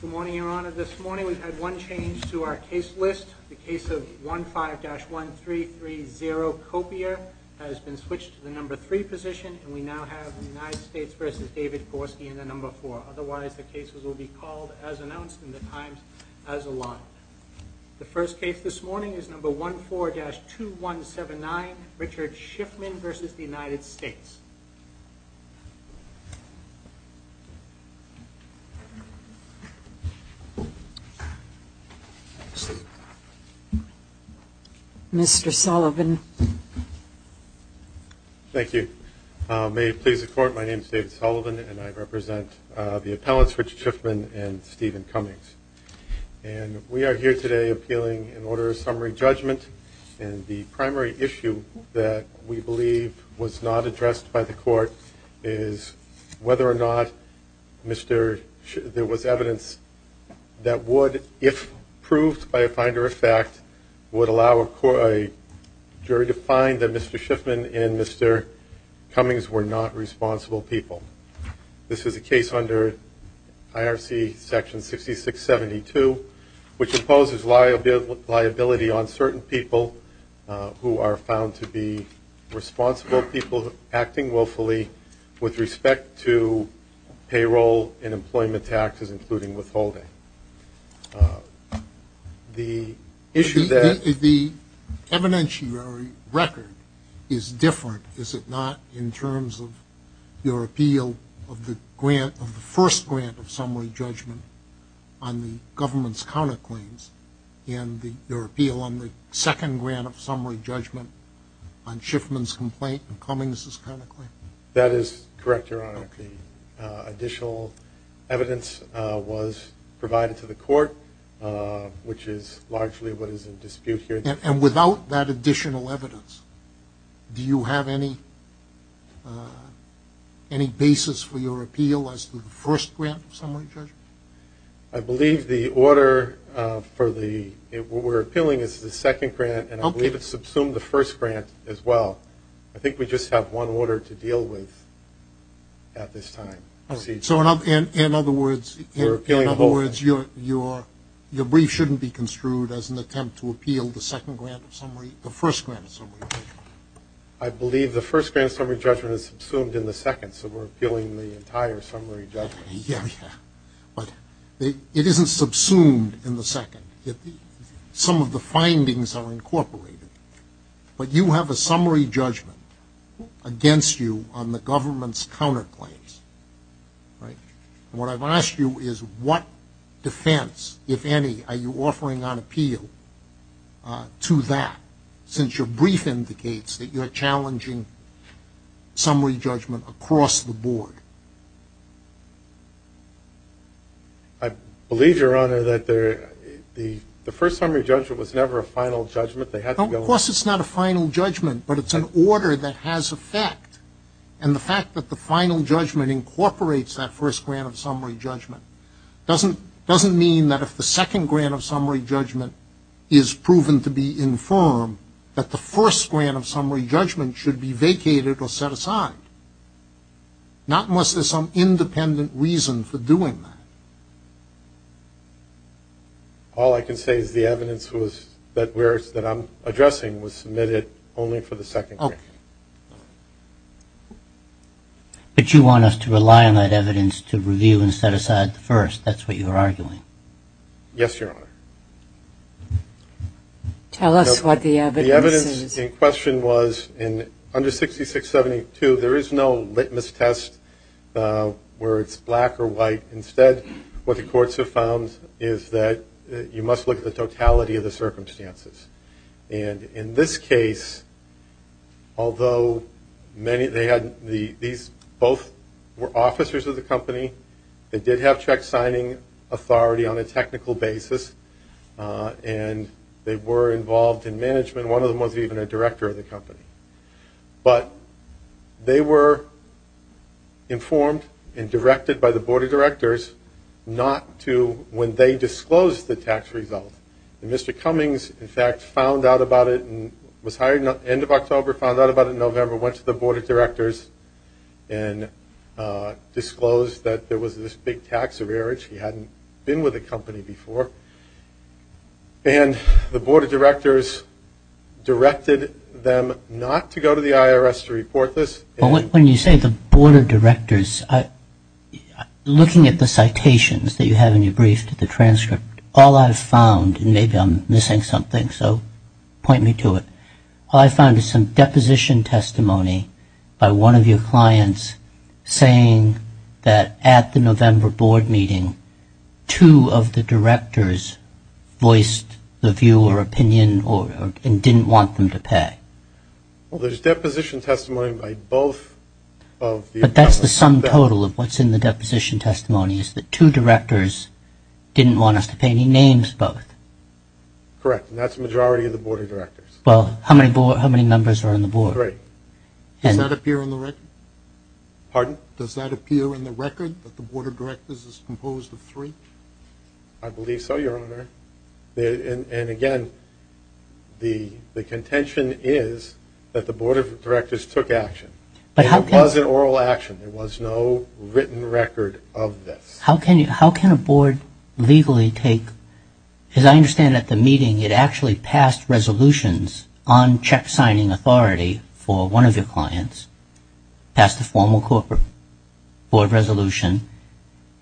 Good morning, your honor. This morning we had one change to our case list. The case of 15-1330 copier has been switched to the number three position, and we now have the United States versus David Korsky in the number four. Otherwise, the cases will be called as announced in the Times as a lot. The first case this morning is number 14-2179 Richard Schiffman versus the United States. Mr. Sullivan. Thank you. May it please the court, my name is David Sullivan, and I represent the appellants Richard Schiffman and Stephen Cummings. And we are here today appealing an order of summary judgment, and the primary issue that we believe was not addressed by the court is whether or not there was evidence that would, if proved by a finder of fact, would allow a jury to find that Mr. Schiffman and Mr. Cummings were not responsible people. This is a case under IRC section 6672, which imposes liability on certain people who are found to be responsible people acting willfully with respect to payroll and employment taxes, including withholding. The issue that... The evidentiary record is different, is it not, in terms of your appeal of the grant, of the first grant of summary judgment on the government's counter claims, and your appeal on the second grant of summary judgment on Schiffman's complaint of Cummings's counter claim? That is correct, Your Honor. The additional evidence was provided to the court, which is largely what is in dispute here. And without that additional evidence, do you have any basis for your appeal as to the first grant of summary judgment? I believe the order for the... we're appealing is the second grant, and I believe it's subsumed the first grant as well. I think we just have one order to deal with at this time. So in other words, in other words, your brief shouldn't be construed as an attempt to appeal the second grant of summary, the first grant of summary judgment. I believe the first grant of summary judgment is subsumed in the second, so we're appealing the entire summary judgment. Yeah, yeah, but it isn't subsumed in the second. Some of the findings are incorporated, but you have a summary judgment against you on the government's counter claims, right? And what I've asked you is what defense, if any, are you offering on appeal to that since your brief indicates that you're challenging summary judgment across the Your Honor, the first summary judgment was never a final judgment. Of course it's not a final judgment, but it's an order that has effect. And the fact that the final judgment incorporates that first grant of summary judgment doesn't mean that if the second grant of summary judgment is proven to be infirm, that the first grant of summary judgment should be vacated or set aside. Not unless there's some independent reason for doing that. All I can say is the evidence that I'm addressing was submitted only for the second grant. But you want us to rely on that evidence to review and set aside the first. That's what you're arguing. Yes, Your Honor. Tell us what the evidence is. The evidence in question was under 6672, there is no witness test where it's black or white. Instead, what the courts have found is that you must look at the totality of the circumstances. And in this case, although many, they had, these both were officers of the company, they did have check signing authority on a technical basis, and they were involved in management. One of them wasn't even a director of the company. But they were informed and directed by the Board of Directors not to, when they disclosed the tax result, and Mr. Cummings, in fact, found out about it and was hired end of October, found out about it in November, went to the Board of Directors and disclosed that there was this big tax average. He hadn't been with the company before. And the Board of Directors directed them not to go to the IRS to report this. When you say the Board of Directors, looking at the citations that you have in your brief to the transcript, all I've found, and maybe I'm missing something, so point me to it, all I've found is some deposition testimony by one of your clients saying that at the November board meeting, two of the directors voiced the view or opinion or, and didn't want them to pay. Well, there's deposition testimony by both of the But that's the sum total of what's in the deposition testimony, is that two directors didn't want us to pay. He names both. Correct. And that's the majority of the Board of Directors. Well, how many members are on the board? Three. Does that appear on the record? Pardon? Does that appear in the record that the Board of Directors is composed of three? I believe so, Your Honor. And again, the contention is that the Board of Directors took action. But how can It was an oral action. There was no written record of this. How can you, how can a board legally take, as I understand at the meeting, it actually passed resolutions on check signing authority for one of your clients, passed a formal corporate board resolution,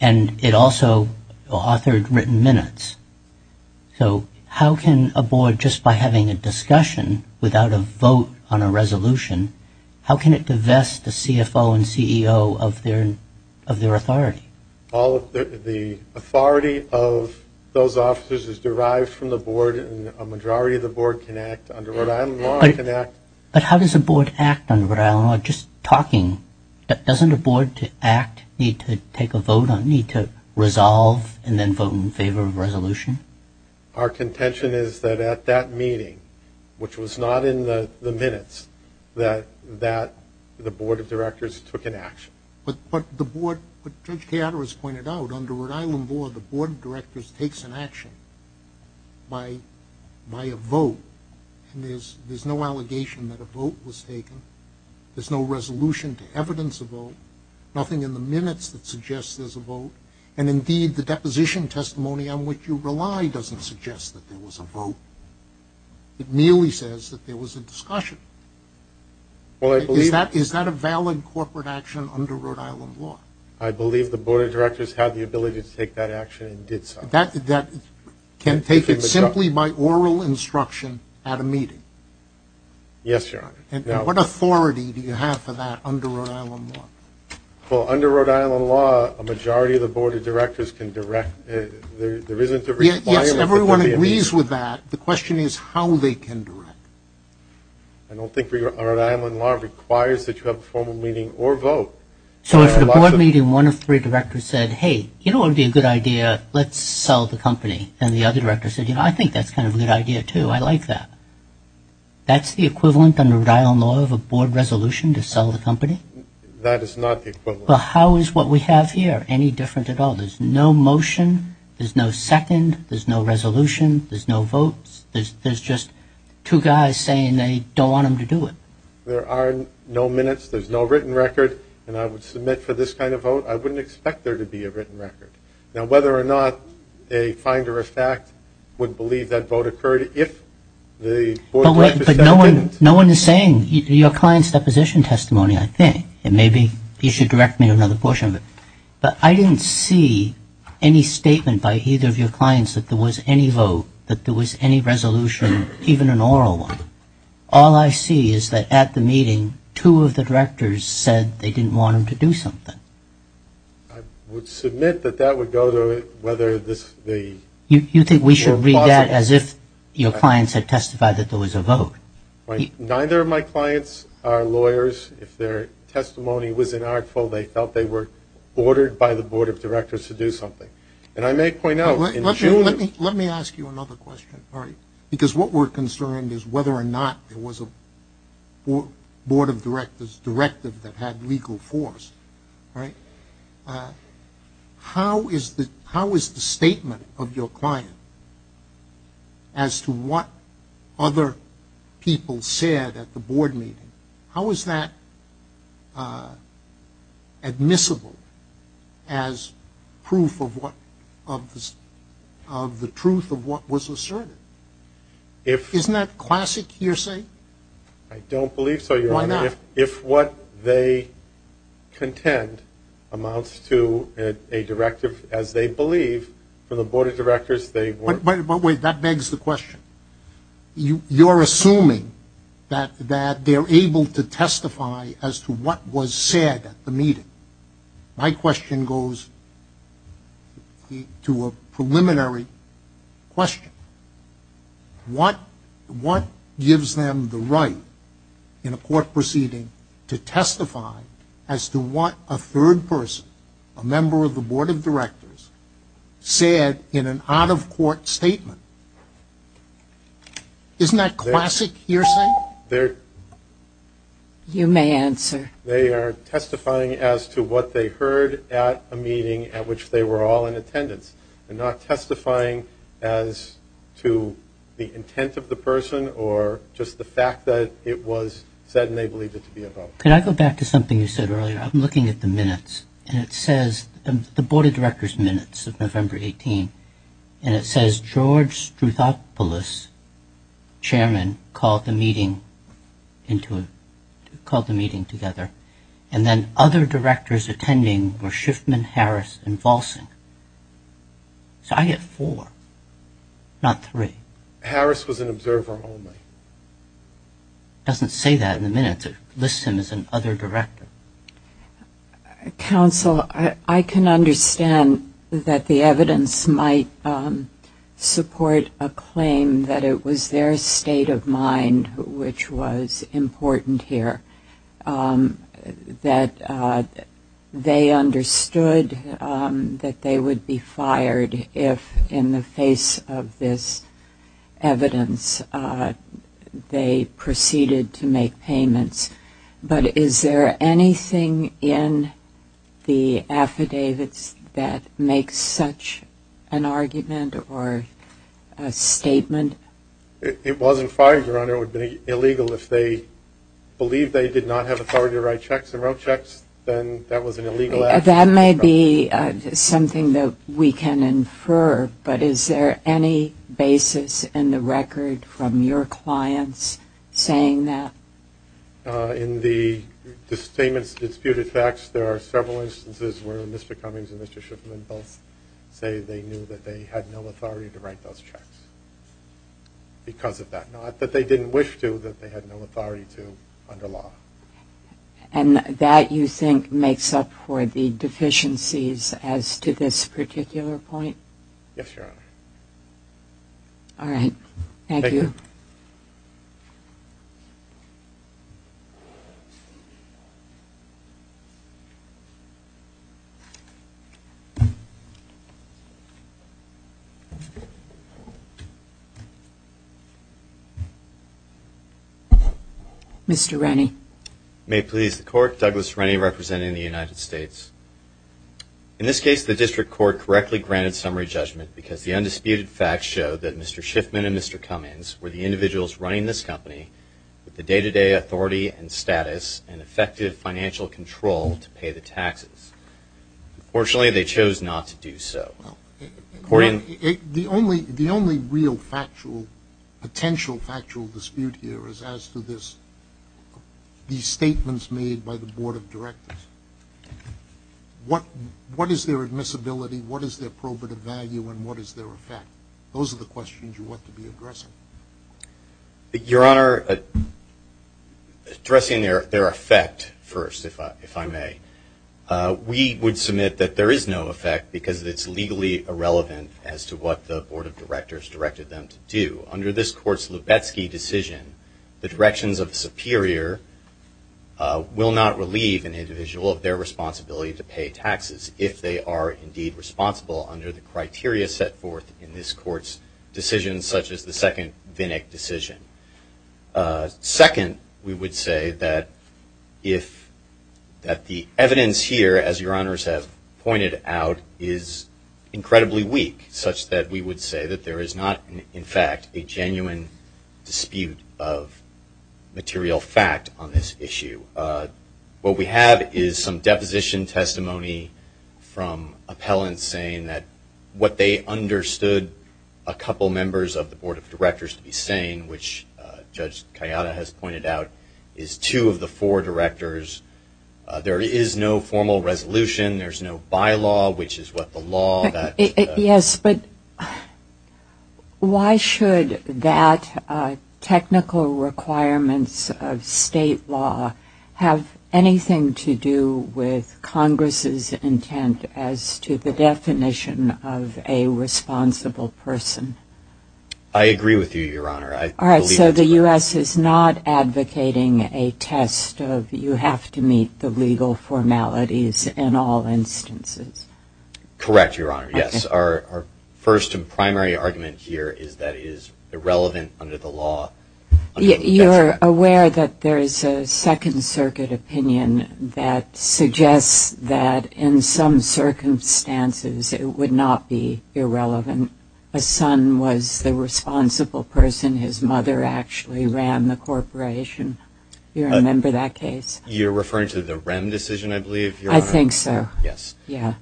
and it also authored written minutes. So how can a board, just by having a discussion without a vote on a resolution, how can it divest the CFO and CEO of their authority? All of the authority of those officers is derived from the board, and a majority of the board can act. Under Rhode Island law, it can act. But how does a board act under Rhode Island law? Just talking, doesn't a board to act need to take a vote on, need to resolve, and then vote in favor of a resolution? Our contention is that at that meeting, which was not in the minutes, that the Board of Directors took an action. But the board, what Judge Keater has pointed out, under Rhode Island law, the Board of Directors takes an action by a vote, and there's no allegation that a vote was taken, there's no resolution to evidence a vote, nothing in the minutes that suggests there's a vote, and indeed the deposition testimony on which you rely doesn't suggest that there was a vote. It merely says that there was a discussion. Well, I believe Is that a valid corporate action under Rhode Island law? I believe the Board of Directors had the ability to take that action and did so. That can take it simply by oral instruction at a meeting? Yes, Your Honor. What authority do you have for that under Rhode Island law? Under Rhode Island law, a majority of the Board of Directors can direct, there isn't a requirement that there be a meeting. Yes, everyone agrees with that. The question is how they can direct. I don't think Rhode Island law requires that you have a formal meeting or vote. So if at a board meeting one of three directors said, hey, you know what would be a good idea, let's sell the company, and the other director said, you know, I think that's kind of a good idea too, I like that. That's the equivalent under Rhode Island law of a board resolution to sell the company? That is not the equivalent. Well, how is what we have here any different at all? There's no motion, there's no second, there's no resolution, there's no votes, there's just two guys saying they don't want them to do it. There are no minutes, there's no written record, and I would submit for this kind of vote, I wouldn't expect there to be a written record. Now whether or not a finder of fact would believe that vote occurred if the Board of Directors said it didn't. No one is saying, your client's deposition testimony, I think, and maybe you should direct me to another portion of it, but I didn't see any statement by either of your clients that there was any vote, that there was any resolution, even an oral one. All I see is that at the meeting two of the directors said they didn't want them to do something. I would submit that that would go to whether this, the... You think we should read that as if your clients had testified that there was a vote. Neither of my clients are lawyers. If their testimony was inartful, they felt they were ordered by the Board of Directors to do something. And I may point out in June... Let me ask you another question, because what we're concerned is whether or not there was a Board of Directors directive that had legal force. How is the statement of your client as to what other people said at the board meeting, how is that admissible as proof of what, of the truth of what was asserted? Isn't that classic hearsay? I don't believe so, your honor. Why not? If what they contend amounts to a directive as they believe, for the Board of Directors they... But wait, that begs the question. You're assuming that they're able to testify as to what was said at the meeting. My question goes to a preliminary question. What gives them the right in a court proceeding to testify as to what a third person, a member of the Board of Directors, said in an out-of-court statement? Isn't that classic hearsay? You may answer. They are testifying as to what they heard at a meeting at which they were all in attendance, and not testifying as to the intent of the person or just the fact that it was said and they believed it to be about them. Can I go back to something you said earlier? I'm looking at the minutes, and it says the Board of Directors' minutes of November 18, and it says George Struthopoulos, chairman, called the meeting together, and then other directors attending were Schiffman, Harris, and Volsing. So I get four, not three. Harris was an observer only. It doesn't say that in the minutes. It lists him as an other director. Counsel, I can understand that the evidence might support a claim that it was their state of mind which was important here, that they understood that they would be fired if, in the face of this evidence, they proceeded to make payments. But is there anything in the affidavits that makes such an argument or a statement? It wasn't fired, Your Honor. It would be illegal if they believed they did not have authority to write checks and wrote checks, then that was an illegal action. That may be something that we can infer, but is there any basis in the record from your clients saying that? In the disputed facts, there are several instances where Mr. Cummings and Mr. Schiffman both say they knew that they had no authority to write those checks because of that. Not that they didn't wish to, that they had no authority to under law. And that, you think, makes up for the deficiencies as to this particular point? Yes, Your Honor. All right. Thank you. Mr. Rennie. May it please the Court, Douglas Rennie representing the United States. In this case, the District Court correctly granted summary judgment because the undisputed facts show that Mr. Schiffman and Mr. Cummings were the individuals running this company with the day-to-day authority and status and effective financial control to pay the taxes. Unfortunately, they chose not to do so. The only real potential factual dispute here is as to these statements made by the Board of Directors. What is their admissibility, what is their probative value, and what is their effect? Those are the questions you want to be addressing. Your Honor, addressing their effect first, if I may. We would submit that there is no effect because it's legally irrelevant as to what the Board of Directors directed them to do. Under this Court's Lubetzky decision, the directions of the superior will not relieve an individual of their responsibility to pay taxes if they are indeed responsible under the criteria set forth in this Court's decision, such as the second Vinick decision. Second, we would say that the evidence here, as Your Honors have pointed out, is incredibly weak such that we would say that there is not, in fact, a genuine dispute of material fact on this issue. What we have is some deposition testimony from appellants saying that what they understood a couple members of the Board of Directors to be saying, which Judge Kayada has pointed out, is two of the four directors. There is no formal resolution, there's no bylaw, which is what the law that- Yes, but why should that technical requirements of state law have anything to do with Congress's intent as to the definition of a responsible person? I agree with you, Your Honor. All right, so the U.S. is not advocating a test of you have to meet the legal formalities in all instances. Correct, Your Honor, yes. Our first and primary argument here is that it is irrelevant under the law. You're aware that there is a Second Circuit opinion that suggests that in some circumstances it would not be irrelevant. A son was the responsible person, his mother actually ran the corporation. Do you remember that case? You're referring to the Rem decision, I believe, Your Honor? I think so. Yes. Yeah.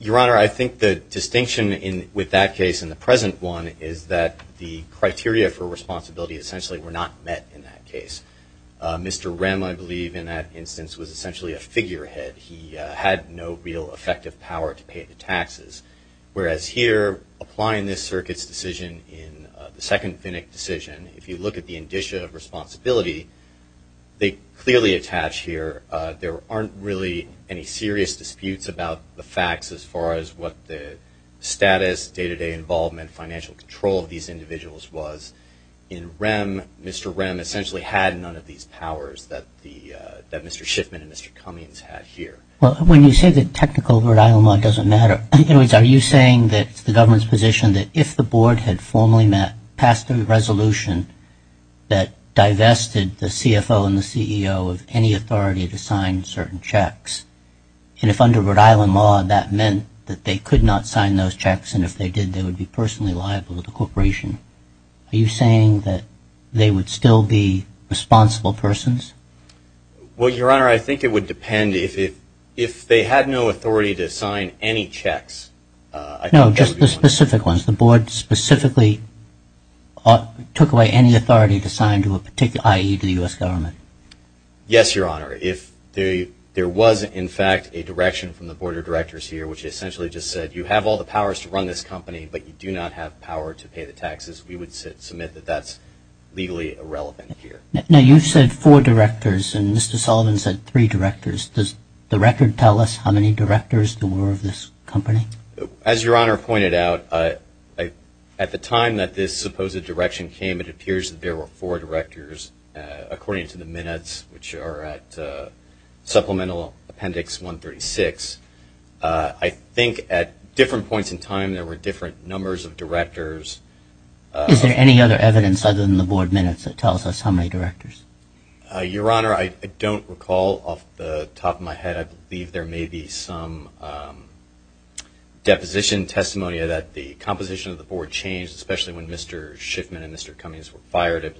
Your Honor, I think the distinction with that case and the present one is that the criteria for responsibility essentially were not met in that case. Mr. Rem, I believe, in that instance was essentially a figurehead. He had no real effective power to pay the taxes. Whereas here, applying this Circuit's decision in the second Finnick decision, if you look at the indicia of responsibility, they clearly attach here there aren't really any serious disputes about the facts as far as what the status, day-to-day involvement, financial control of these individuals was. In Rem, Mr. Rem essentially had none of these powers that Mr. Schiffman and Mr. Cummings had here. Well, when you say that technical Rhode Island law doesn't matter, in other words, are you saying that the government's position that if the board had formally passed a resolution that divested the CFO and the CEO of any authority to sign certain checks, and if under Rhode Island law that meant that they could not sign those checks, and if they did, they would be personally liable to the corporation, are you saying that they would still be responsible persons? Well, Your Honor, I think it would depend. If they had no authority to sign any checks, I think that would be one. The board specifically took away any authority to sign to a particular, i.e., to the U.S. government? Yes, Your Honor. If there was, in fact, a direction from the board of directors here which essentially just said, you have all the powers to run this company, but you do not have power to pay the taxes, we would submit that that's legally irrelevant here. Now, you said four directors, and Mr. Sullivan said three directors. Does the record tell us how many directors there were of this company? As Your Honor pointed out, at the time that this supposed direction came, it appears that there were four directors, according to the minutes, which are at Supplemental Appendix 136. I think at different points in time there were different numbers of directors. Is there any other evidence other than the board minutes that tells us how many directors? Your Honor, I don't recall off the top of my head. I believe there may be some deposition testimony that the composition of the board changed, especially when Mr. Schiffman and Mr. Cummings were fired. I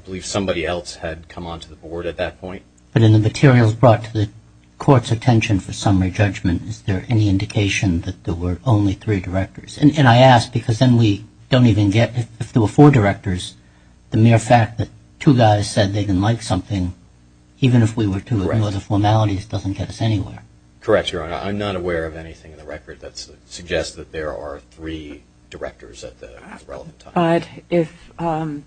believe somebody else had come onto the board at that point. But in the materials brought to the Court's attention for summary judgment, is there any indication that there were only three directors? And I ask because then we don't even get if there were four directors, the mere fact that two guys said they didn't like something, even if we were two, it was a formality, it doesn't get us anywhere. Correct, Your Honor. I'm not aware of anything in the record that suggests that there are three directors at the relevant time. But if I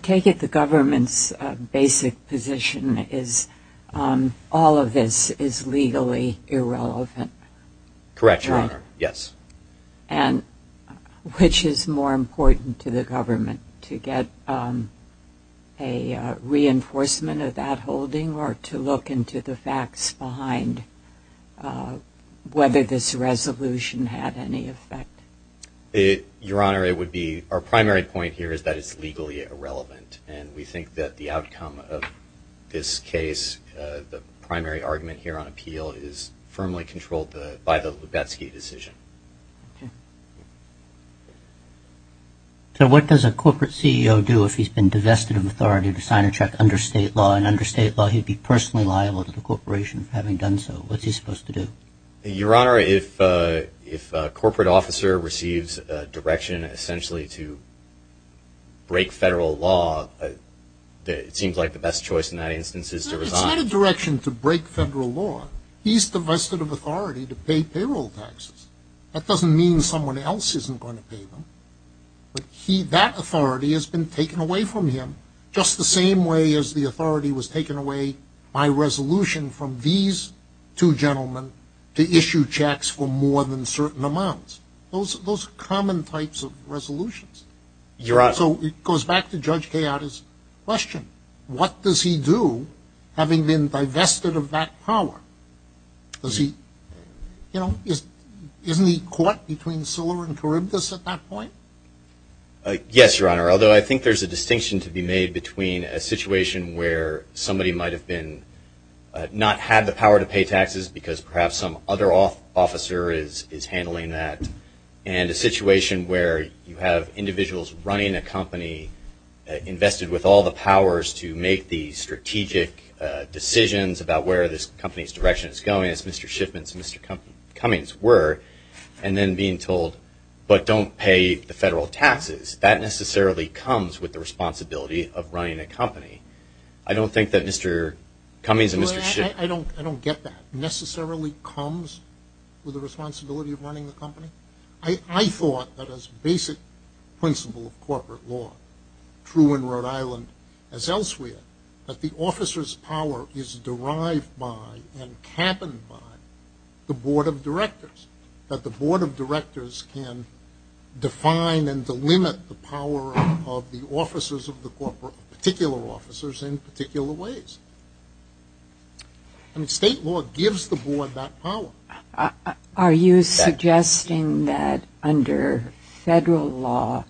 take it the government's basic position is all of this is legally irrelevant. Correct, Your Honor. Yes. And which is more important to the government, to get a reinforcement of that holding or to look into the facts behind whether this resolution had any effect? Your Honor, it would be, our primary point here is that it's legally irrelevant. And we think that the outcome of this case, the primary argument here on appeal, is firmly controlled by the Lubetzky decision. So what does a corporate CEO do if he's been divested of authority to sign a check under state law? And under state law, he'd be personally liable to the corporation for having done so. What's he supposed to do? Your Honor, if a corporate officer receives a direction essentially to break federal law, it seems like the best choice in that instance is to resign. If he's had a direction to break federal law, he's divested of authority to pay payroll taxes. That doesn't mean someone else isn't going to pay them. But that authority has been taken away from him just the same way as the authority was taken away by resolution from these two gentlemen to issue checks for more than certain amounts. Those are common types of resolutions. So it goes back to Judge Kayada's question. What does he do having been divested of that power? You know, isn't he caught between Silver and Charybdis at that point? Yes, Your Honor, although I think there's a distinction to be made between a situation where somebody might have not had the power to pay taxes because perhaps some other officer is handling that, and a situation where you have individuals running a company invested with all the powers to make the strategic decisions about where this company's direction is going, as Mr. Shipman's and Mr. Cummings were, and then being told, but don't pay the federal taxes. That necessarily comes with the responsibility of running a company. I don't think that Mr. Cummings and Mr. Shipman. I don't get that. Necessarily comes with the responsibility of running the company? I thought that as basic principle of corporate law, true in Rhode Island as elsewhere, that the officer's power is derived by and cabined by the board of directors, that the board of directors can define and delimit the power of the officers of the corporate, particular officers in particular ways. I mean, state law gives the board that power. Are you suggesting that under federal law,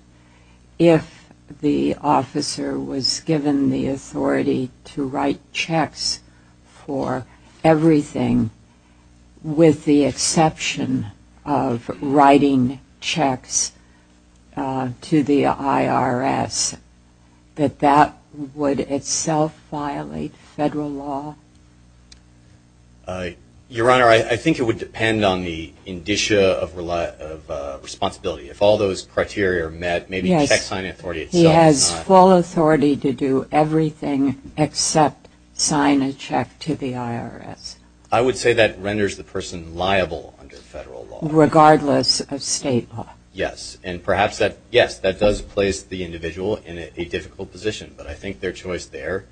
if the officer was given the authority to write checks for everything, with the exception of writing checks to the IRS, that that would itself violate federal law? Your Honor, I think it would depend on the indicia of responsibility. If all those criteria are met, maybe the check signing authority itself is not. He has full authority to do everything except sign a check to the IRS. I would say that renders the person liable under federal law. Regardless of state law? Yes. And perhaps that, yes, that does place the individual in a difficult position. But I think their choice there,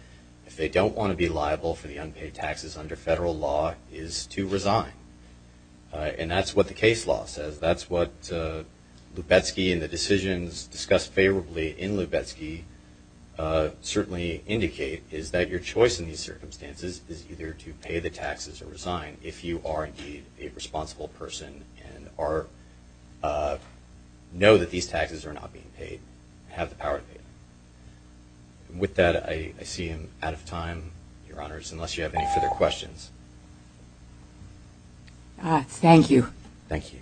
if they don't want to be liable for the unpaid taxes under federal law, is to resign. And that's what the case law says. That's what Lubetzky and the decisions discussed favorably in Lubetzky certainly indicate, is that your choice in these circumstances is either to pay the taxes or resign if you are indeed a responsible person and know that these taxes are not being paid, have the power to pay them. With that, I see I'm out of time, Your Honors, unless you have any further questions. Thank you. Thank you. Thank you both.